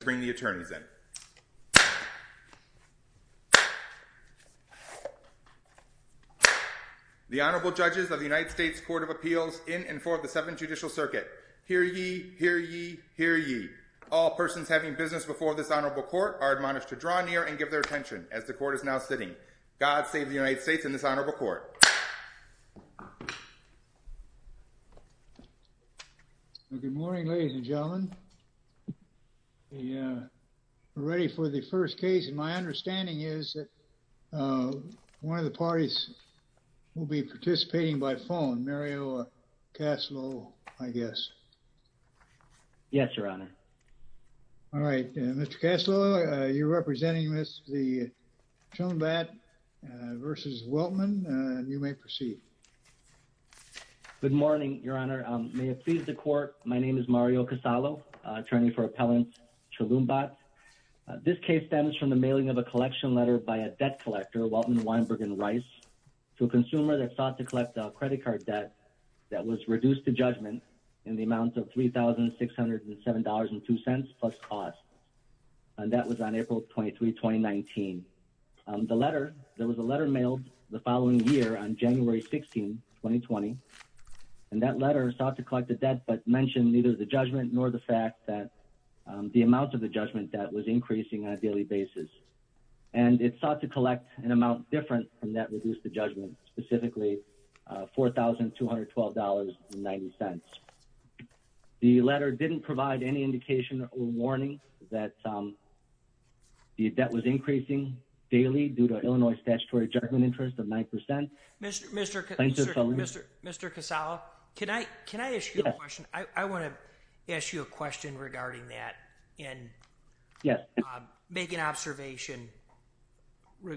bring the attorneys in. The Honorable Judges of the United States Court of Appeals in and for the Seventh Judicial Circuit. Hear ye, hear ye, hear ye. All persons having business before this honorable court are admonished to draw near and give their attention as the court is now sitting. God save the United States Court of Appeals in and for the Seventh Judicial Circuit is now United States Court of Appeals in and for the Seventh Judicial Circuit. Hear ye, hear ye, hear ye. All persons having business before this honorable court are admonished to draw near and give their attention as the court is now sitting. God save the United States Court of Appeals in and for the Seventh Judicial Circuit is now sitting. Hear ye, hear ye, hear ye. All persons having business before this honorable court are admonished to draw near and give their attention as the court is now sitting. All persons having business before this honorable court are admonished to draw All persons having business before this honorable court are admonished to draw near and give their attention as the court is now sitting. I have a question regarding that and make an observation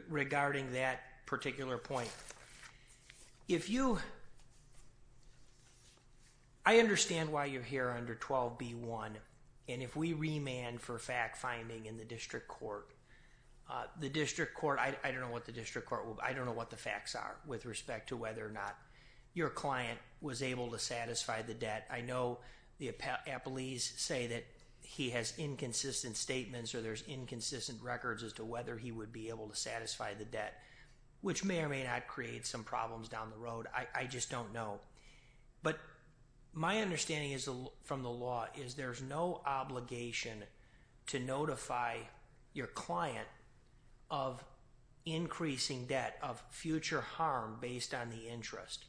regarding that particular point. If you, I understand why you're here under 12B1 and if we remand for fact finding in the district court, the district court, I don't know what the district court, I don't know what the facts are with respect to whether or not your client was able to satisfy the debt. I know the appellees say that he has inconsistent statements or there's inconsistent records as to whether he would be able to satisfy the debt, which may or may not create some problems down the road. I just don't know. But my understanding is from the law is there's no obligation to notify your client of increasing debt of future harm based on the interest,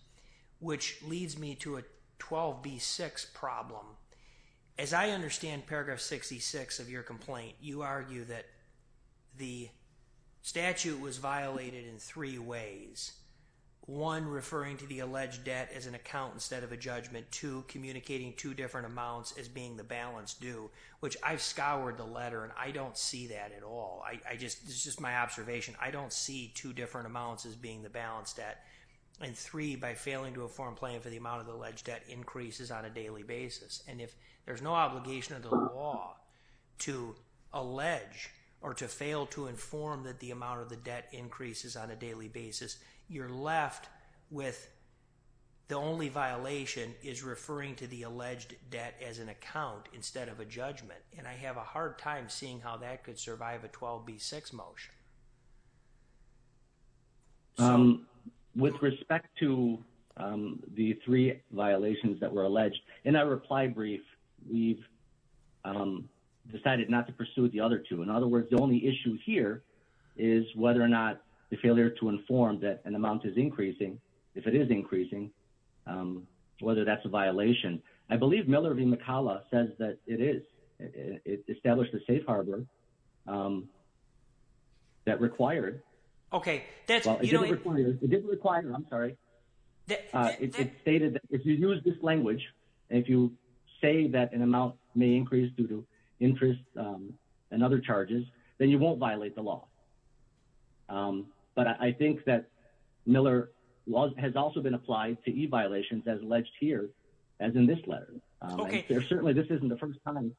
which leads me to a 12B6 problem. As I understand paragraph 66 of your complaint, you argue that the statute was violated in three ways. One, referring to the alleged debt as an account instead of a judgment. Two, communicating two different amounts as being the balance due, which I've scoured the letter and I don't see that at all. This is just my observation. I don't see two different amounts as being the balance debt. And three, by failing to inform client for the amount of alleged debt increases on a daily basis. And if there's no obligation of the law to allege or to fail to inform that the amount of the debt increases on a daily basis, you're left with the only violation is referring to the alleged debt as an account instead of a judgment. And I have a hard time seeing how that could survive a 12B6 motion. With respect to the three violations that were alleged, in our reply brief, we've decided not to pursue the other two. In other words, the only issue here is whether or not the failure to inform that an amount is increasing, if it is a violation. I believe Miller v. McCalla says that it is. It established a safe harbor that required. Okay. It didn't require, I'm sorry. It stated that if you use this language, if you say that an amount may increase due to interest and other charges, then you won't violate the law. But I think that Miller has also been applied to E as in this letter. Okay. There certainly, this isn't the first time.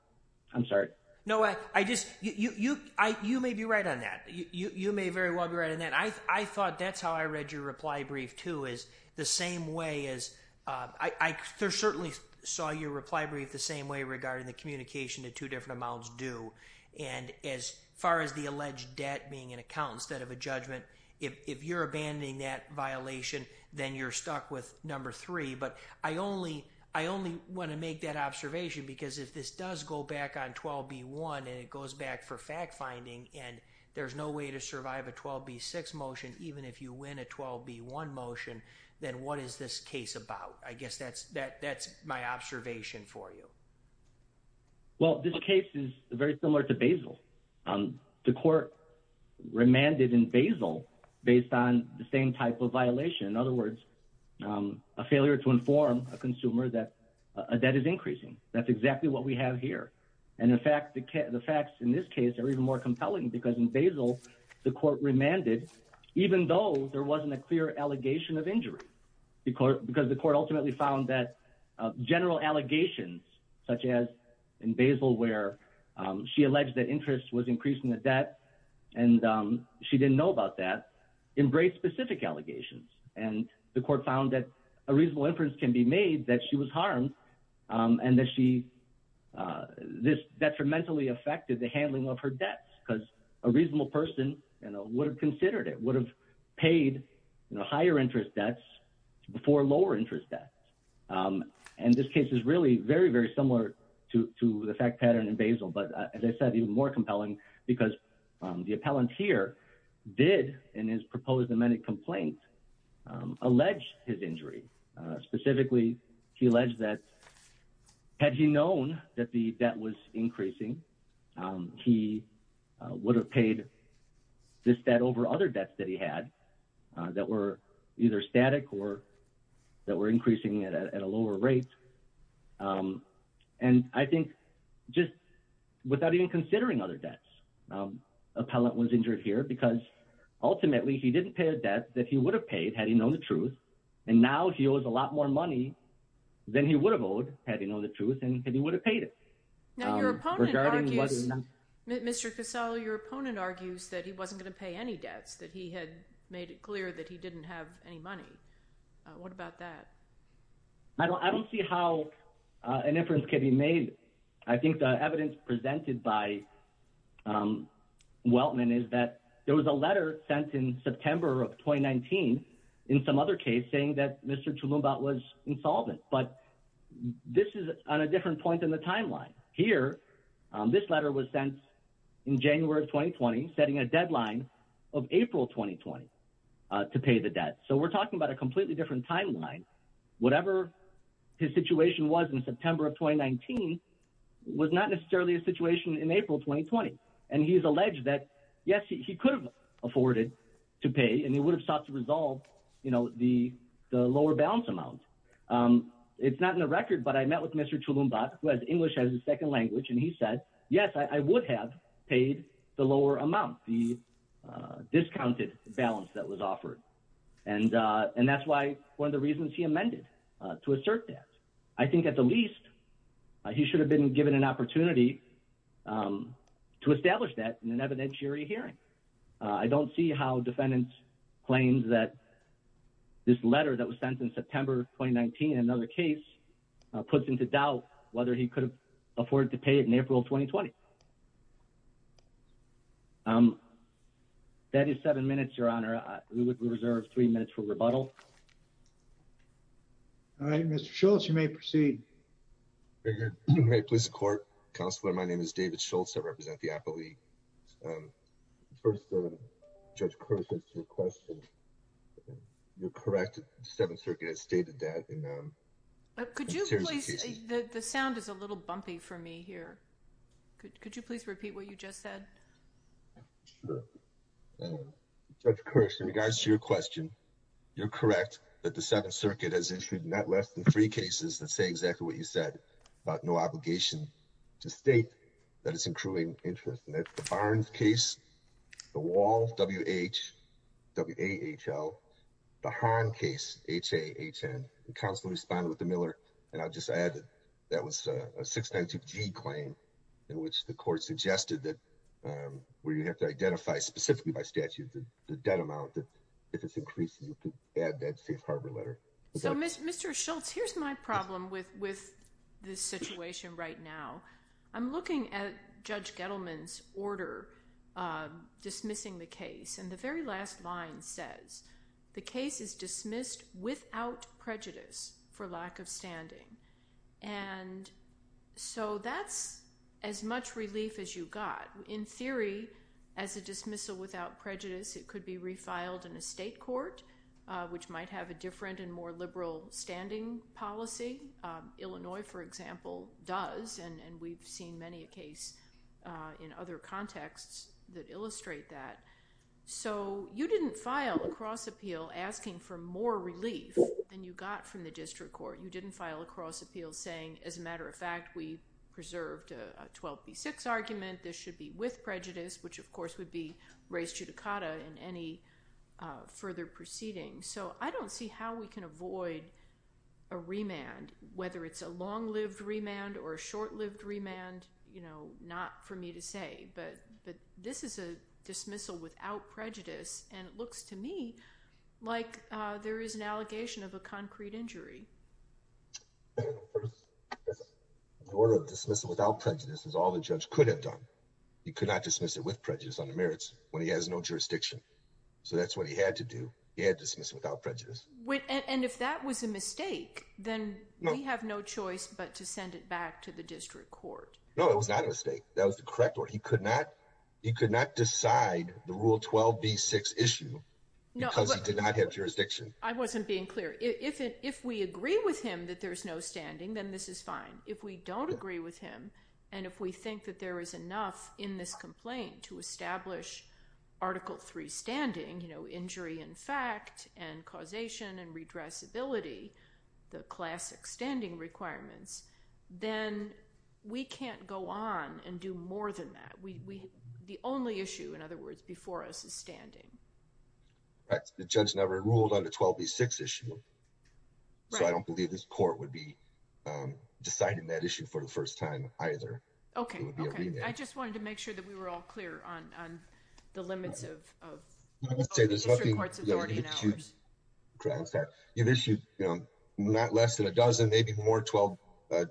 I'm sorry. No, I just, you may be right on that. You may very well be right on that. I thought that's how I read your reply brief too, is the same way as, I certainly saw your reply brief the same way regarding the communication to two different amounts due. And as far as the alleged debt being an account instead of a judgment, if you're abandoning that violation, then you're stuck with number three. But I only want to make that observation because if this does go back on 12B1 and it goes back for fact finding and there's no way to survive a 12B6 motion, even if you win a 12B1 motion, then what is this case about? I guess that's my observation for you. Well, this case is very similar to Basel. The court remanded in Basel based on the same type of violation. In other words, a failure to inform a consumer that a debt is increasing. That's exactly what we have here. And in fact, the facts in this case are even more compelling because in Basel, the court remanded even though there wasn't a clear allegation of injury because the court ultimately found that general allegations such as in Basel where she alleged that interest was increasing the debt and she didn't know about that, embraced specific allegations. And the court found that a reasonable inference can be made that she was harmed and that this detrimentally affected the handling of her debts because a reasonable person would have considered it, would have paid higher interest debts before lower interest debts. And this case is really very, very similar to the fact pattern in Basel. But as I said, even more compelling because the appellant here did in his proposed amended complaint allege his injury. Specifically, he alleged that had he known that the debt was increasing, he would have paid this debt over other debts that he had that were either static or that were increasing at a lower rate. And I think just without even considering other debts, appellant was injured here because ultimately he didn't pay a debt that he would have paid had he known the truth. And now he owes a lot more money than he would have owed had he known the truth and he would have paid it. Now, your opponent argues, Mr. Casello, your opponent argues that he wasn't going to pay any debts, that he had made it clear that he didn't have any money. What about that? I don't see how an inference can be made. I think the evidence presented by Weltman is that there was a letter sent in September of 2019 in some other case saying that Mr. Chalumbaut was insolvent. But this is on a different point in the April 2020 to pay the debt. So we're talking about a completely different timeline. Whatever his situation was in September of 2019 was not necessarily a situation in April 2020. And he's alleged that, yes, he could have afforded to pay and he would have sought to resolve the lower balance amount. It's not in the record, but I met with Mr. Chalumbaut, who has English as his second language, and he said, yes, I would have paid the lower amount, the discounted balance that was offered. And that's why one of the reasons he amended to assert that. I think at the least, he should have been given an opportunity to establish that in an evidentiary hearing. I don't see how defendants claims that this letter that was sent in September 2019 in another case puts into doubt whether he could have afforded to pay it in April 2020. That is seven minutes, Your Honor. We would reserve three minutes for rebuttal. All right, Mr. Schultz, you may proceed. May it please the court. Counselor, my name is David Schultz. I represent the Apple League. First, Judge Kirsch, as to your question, you're correct. The Seventh Circuit has stated that in a series of cases. The sound is a little bumpy for me here. Could you please repeat what you just said? Sure. Judge Kirsch, in regards to your question, you're correct that the Seventh Circuit has issued not less than three cases that say exactly what you said about no obligation to state that it's incruing interest. And that's the Barnes case, the Wall, W-H, W-A-H-L, the Hahn case, H-A-H-N. Counselor responded with the Miller. And I'll just add that that was a 692-G claim in which the court suggested that where you have to identify specifically by statute the debt amount that if it's increased, you could add that safe harbor letter. So Mr. Schultz, here's my problem with this situation right now. I'm looking at Judge Gettleman's order dismissing the case. And the very last line says, the case is dismissed without prejudice for lack of standing. And so that's as much relief as you got. In theory, as a dismissal without prejudice, it could be refiled in a state court, which might have a different and more liberal standing policy. Illinois, for example, does. And we've seen many a case in other contexts that illustrate that. So you didn't file a cross appeal asking for more relief than you got from the district court. You didn't file a cross appeal saying, as a matter of fact, we preserved a 12B6 argument. This should be with prejudice, which, of course, would be raised judicata in any further proceeding. So I don't see how we can avoid a remand, whether it's a long-lived remand or a short-lived remand. Not for me to say, but this is a dismissal without prejudice. And it looks to me like there is an allegation of a concrete injury. The order of dismissal without prejudice is all the judge could have done. He could not dismiss it with prejudice on the merits when he has no jurisdiction. So that's what he had to do. He had to dismiss it without prejudice. And if that was a mistake, then we have no choice but to send it back to the district court. No, it was not a mistake. That was the correct order. He could not. He could not decide the Rule 12B6 issue because he did not have jurisdiction. I wasn't being clear. If we agree with him that there's no standing, then this is fine. If we don't agree with him, and if we think that there is enough in this complaint to establish Article 3 standing, injury in fact and causation and redressability, the classic standing requirements, then we can't go on and do more than that. The only issue, in other words, before us is standing. The judge never ruled on the 12B6 issue. So I don't believe this court would be deciding that issue for the first time either. Okay. Okay. I just wanted to make sure that we were all clear on the limits of the district court's authority. You've issued not less than a dozen, maybe more than 12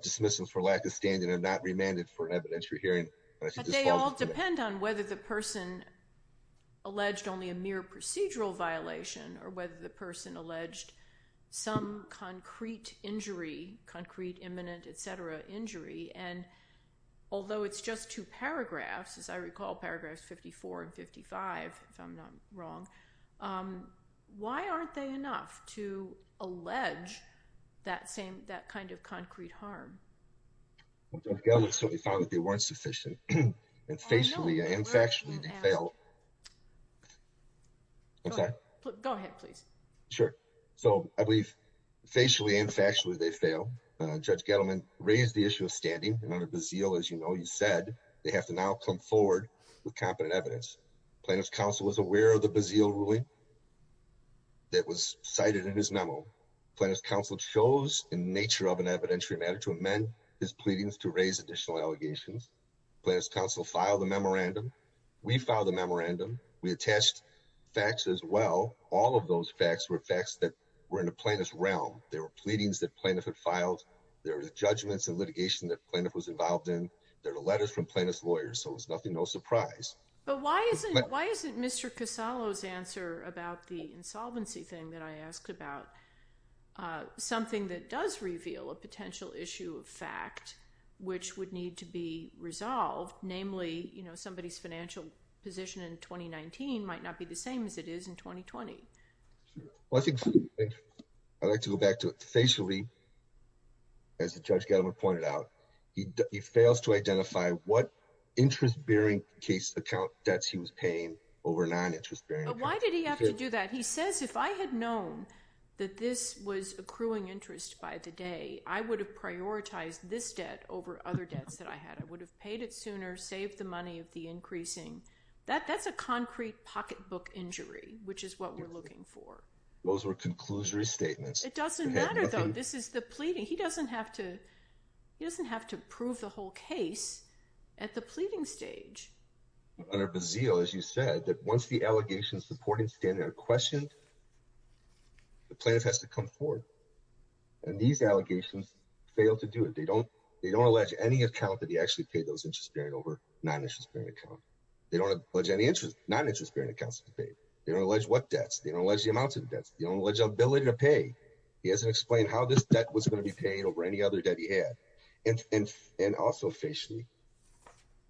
dismissals for lack of standing and not remanded for an evidentiary hearing. But they all depend on whether the person alleged only a mere procedural violation or whether the person alleged some concrete injury, concrete, imminent, et cetera, injury. And although it's just two paragraphs, as I recall, paragraphs 54 and 55, if I'm not wrong, why aren't they enough to allege that kind of concrete harm? Well, Judge Gettleman certainly found that they weren't sufficient. And facially and factually they failed. Go ahead, please. Sure. So I believe facially and factually they failed. Judge Gettleman raised the issue of standing. And under Bazille, as you know, you said they have to now come forward with competent evidence. Plaintiff's counsel was aware of the Bazille ruling that was cited in his memo. Plaintiff's counsel chose in nature of an evidentiary matter to amend his pleadings to raise additional allegations. Plaintiff's counsel filed a memorandum. We filed a memorandum. We attached facts as well. All of those facts were facts that were in the plaintiff's realm. There were pleadings that plaintiff had filed. There were judgments and litigation that plaintiff was involved in. There were letters from plaintiff's lawyers. So it was nothing no surprise. But why isn't Mr. Casalo's answer about the insolvency thing that I asked about something that does reveal a potential issue of fact which would need to be resolved? Namely, you know, somebody's financial position in 2019 might not be the same as it is in 2020. Well, I think I'd like to go back to it facially. As the judge pointed out, he fails to identify what interest bearing case account debts he was paying over non-interest bearing. Why did he have to do that? He says, if I had known that this was accruing interest by the day, I would have prioritized this debt over other debts that I had. I would have paid it sooner, saved the money of the increasing. That's a concrete pocketbook injury, which is what we're looking for. Those were conclusory statements. It doesn't matter, though. This is the pleading. He doesn't have to. He doesn't have to prove the whole case at the pleading stage. Under Bazille, as you said, that once the allegations supporting standard are questioned, the plaintiff has to come forward and these allegations fail to do it. They don't, they don't allege any account that he actually paid those interest bearing over non-interest bearing account. They don't allege any interest, non-interest bearing accounts to be paid. They don't allege what debts. They don't allege the amounts of debts. They don't allege the ability to pay. He hasn't explained how this debt was going to be paid over any other debt he had. And also facially,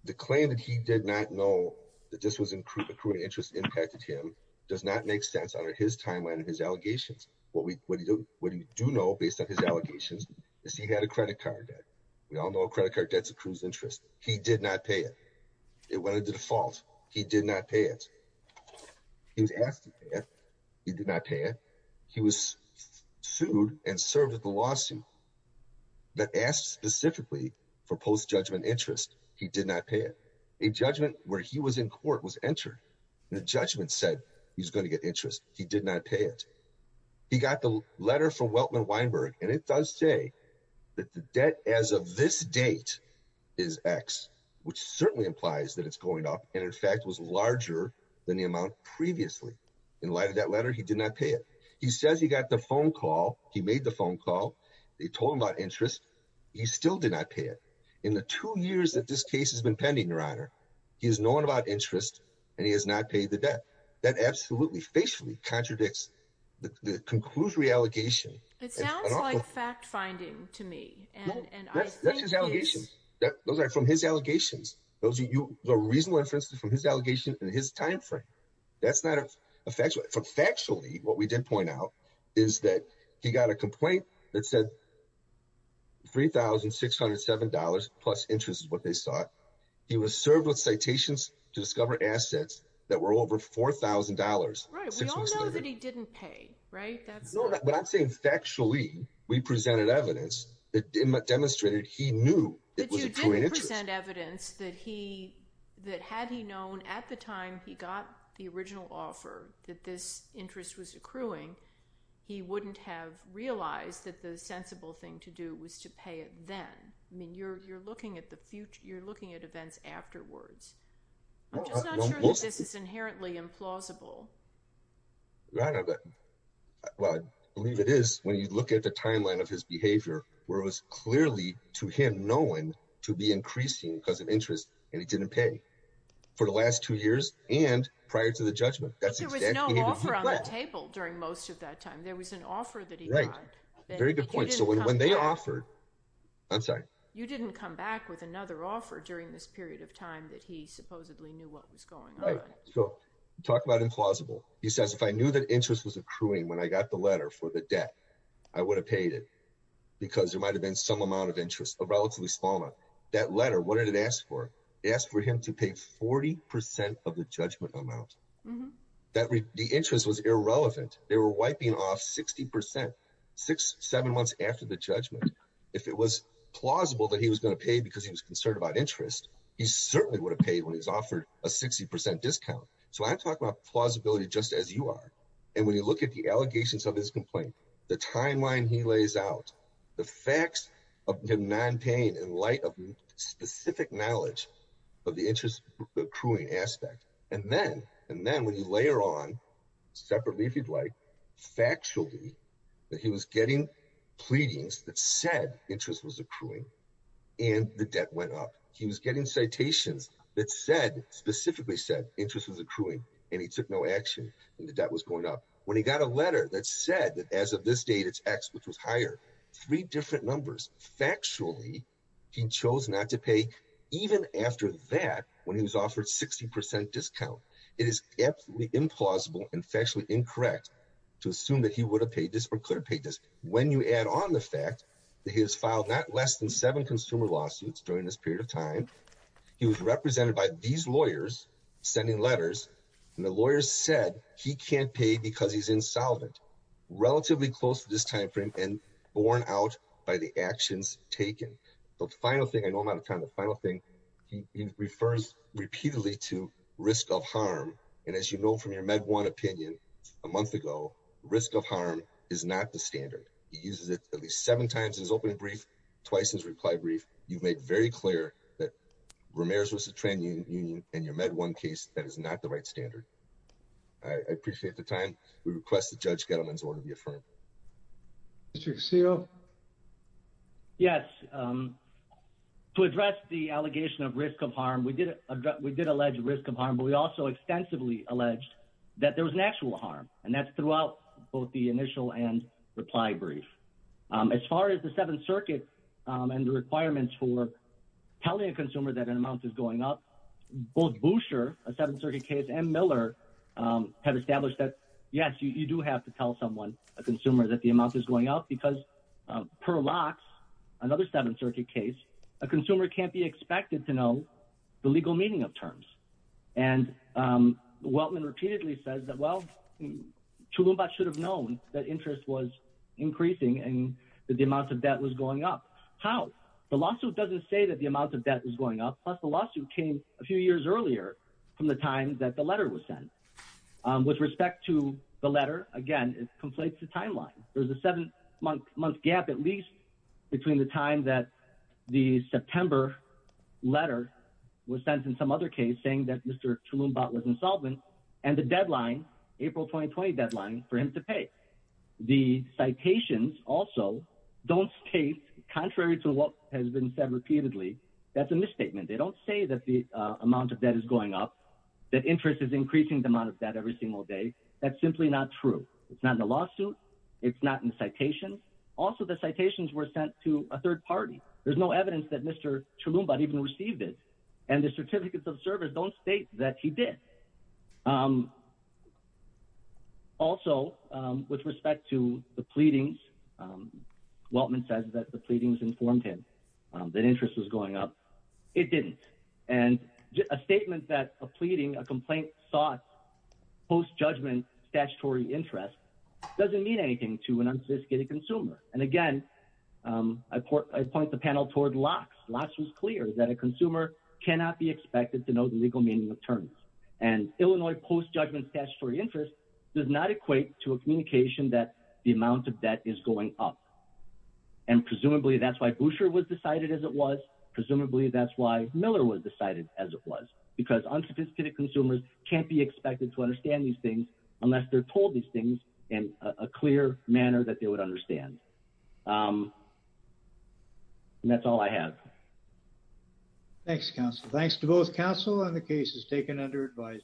the claim that he did not know that this was accruing interest impacted him does not make sense under his timeline and his allegations. What we do know based on his allegations is he had a credit card debt. We all know a credit card debt accrues interest. He did not pay it. It went into default. He did not pay it. He was asked to pay it. He did not pay it. He was sued and served at the lawsuit, but asked specifically for post-judgment interest. He did not pay it. A judgment where he was in court was entered. The judgment said he was going to get interest. He did not pay it. He got the letter from Weltman Weinberg, and it does say that the debt as of this date is X, which certainly implies that it's going up, and in fact was larger than the amount previously. In light of that letter, he did not pay it. He says he got the phone call. He made the phone call. They told him about interest. He still did not pay it. In the two years that this case has been pending, Your Honor, he has known about interest, and he has not paid the debt. That absolutely, facially contradicts the conclusory allegation. It sounds like fact-finding to me. No, that's his allegation. Those are from his allegations. Those are reasonable inferences from his allegation and his timeframe. Factually, what we did point out is that he got a complaint that said $3,607 plus interest is what they sought. He was served with citations to discover assets that were over $4,000. Right. We all know that he didn't pay, right? No, but I'm saying factually we presented evidence that demonstrated he knew it was a true interest. We presented evidence that had he known at the time he got the original offer that this interest was accruing, he wouldn't have realized that the sensible thing to do was to pay it then. I mean, you're looking at events afterwards. I'm just not sure that this is inherently implausible. Well, I believe it is when you look at the timeline of his behavior, where it was clearly to him known to be increasing because of interest and he didn't pay for the last two years and prior to the judgment. But there was no offer on the table during most of that time. There was an offer that he got. Right. Very good point. You didn't come back with another offer during this period of time that he supposedly knew what was going on. So talk about implausible. He says, if I knew that interest was accruing when I got the letter for the debt, I would have paid it because there might have been some amount of interest, a relatively small amount. That letter, what did it ask for? It asked for him to pay 40 percent of the judgment amount. The interest was irrelevant. They were wiping off 60 percent six, seven months after the judgment. If it was plausible that he was going to pay because he was concerned about interest, he certainly would have paid when he was offered a 60 percent discount. So I talk about plausibility just as you are. And when you look at the allegations of his complaint, the timeline he lays out, the facts of him not paying in light of specific knowledge of the interest accruing aspect. And then and then when you layer on separately, if you'd like, factually that he was getting pleadings that said interest was accruing and the debt went up. He was getting citations that said specifically said interest was accruing and he took no action and the debt was going up. When he got a letter that said that as of this date, it's X, which was higher, three different numbers. Factually, he chose not to pay even after that, when he was offered 60 percent discount. It is absolutely implausible and factually incorrect to assume that he would have paid this or could have paid this. When you add on the fact that he has filed not less than seven consumer lawsuits during this period of time, he was represented by these lawyers sending letters and the lawyers said he can't pay because he's insolvent. Relatively close to this time frame and borne out by the actions taken. The final thing, I know I'm out of time, the final thing he refers repeatedly to risk of harm. And as you know from your Med One opinion a month ago, risk of harm is not the standard. He uses it at least seven times in his opening brief, twice in his reply brief. You've made very clear that Ramirez was a tran union and your Med One case, that is not the right standard. I appreciate the time. We request that Judge Gettleman's order be affirmed. Mr. Casillo? Yes. To address the allegation of risk of harm, we did allege risk of harm, but we also extensively alleged that there was an actual harm. And that's throughout both the initial and reply brief. As far as the Seventh Circuit and the requirements for telling a consumer that an amount is going up, both Boucher, a Seventh Circuit case, and Miller have established that, yes, you do have to tell someone, a consumer, that the amount is going up. Because per lox, another Seventh Circuit case, a consumer can't be expected to know the legal meaning of terms. And Weltman repeatedly says that, well, Chulumba should have known that interest was increasing and that the amount of debt was going up. How? The lawsuit doesn't say that the amount of debt is going up. Plus, the lawsuit came a few years earlier from the time that the letter was sent. With respect to the letter, again, it conflates the timeline. There's a seven-month gap, at least, between the time that the September letter was sent and some other case saying that Mr. Chulumba was insolvent and the deadline, April 2020 deadline, for him to pay. The citations also don't state, contrary to what has been said repeatedly, that's a misstatement. They don't say that the amount of debt is going up, that interest is increasing the amount of debt every single day. That's simply not true. It's not in the lawsuit. It's not in the citations. Also, the citations were sent to a third party. There's no evidence that Mr. Chulumba even received it. And the certificates of service don't state that he did. Also, with respect to the pleadings, Waltman says that the pleadings informed him that interest was going up. It didn't. And a statement that a pleading, a complaint sought post-judgment statutory interest doesn't mean anything to an unsophisticated consumer. And again, I point the panel toward LOCKSS. LOCKSS was clear that a consumer cannot be expected to know the legal meaning of terms. And Illinois post-judgment statutory interest does not equate to a communication that the amount of debt is going up. And presumably that's why Boucher was decided as it was. Presumably that's why Miller was decided as it was. Because unsophisticated consumers can't be expected to understand these things unless they're told these things in a clear manner that they would understand. And that's all I have. Thanks, counsel. Thanks to both counsel and the cases taken under advice.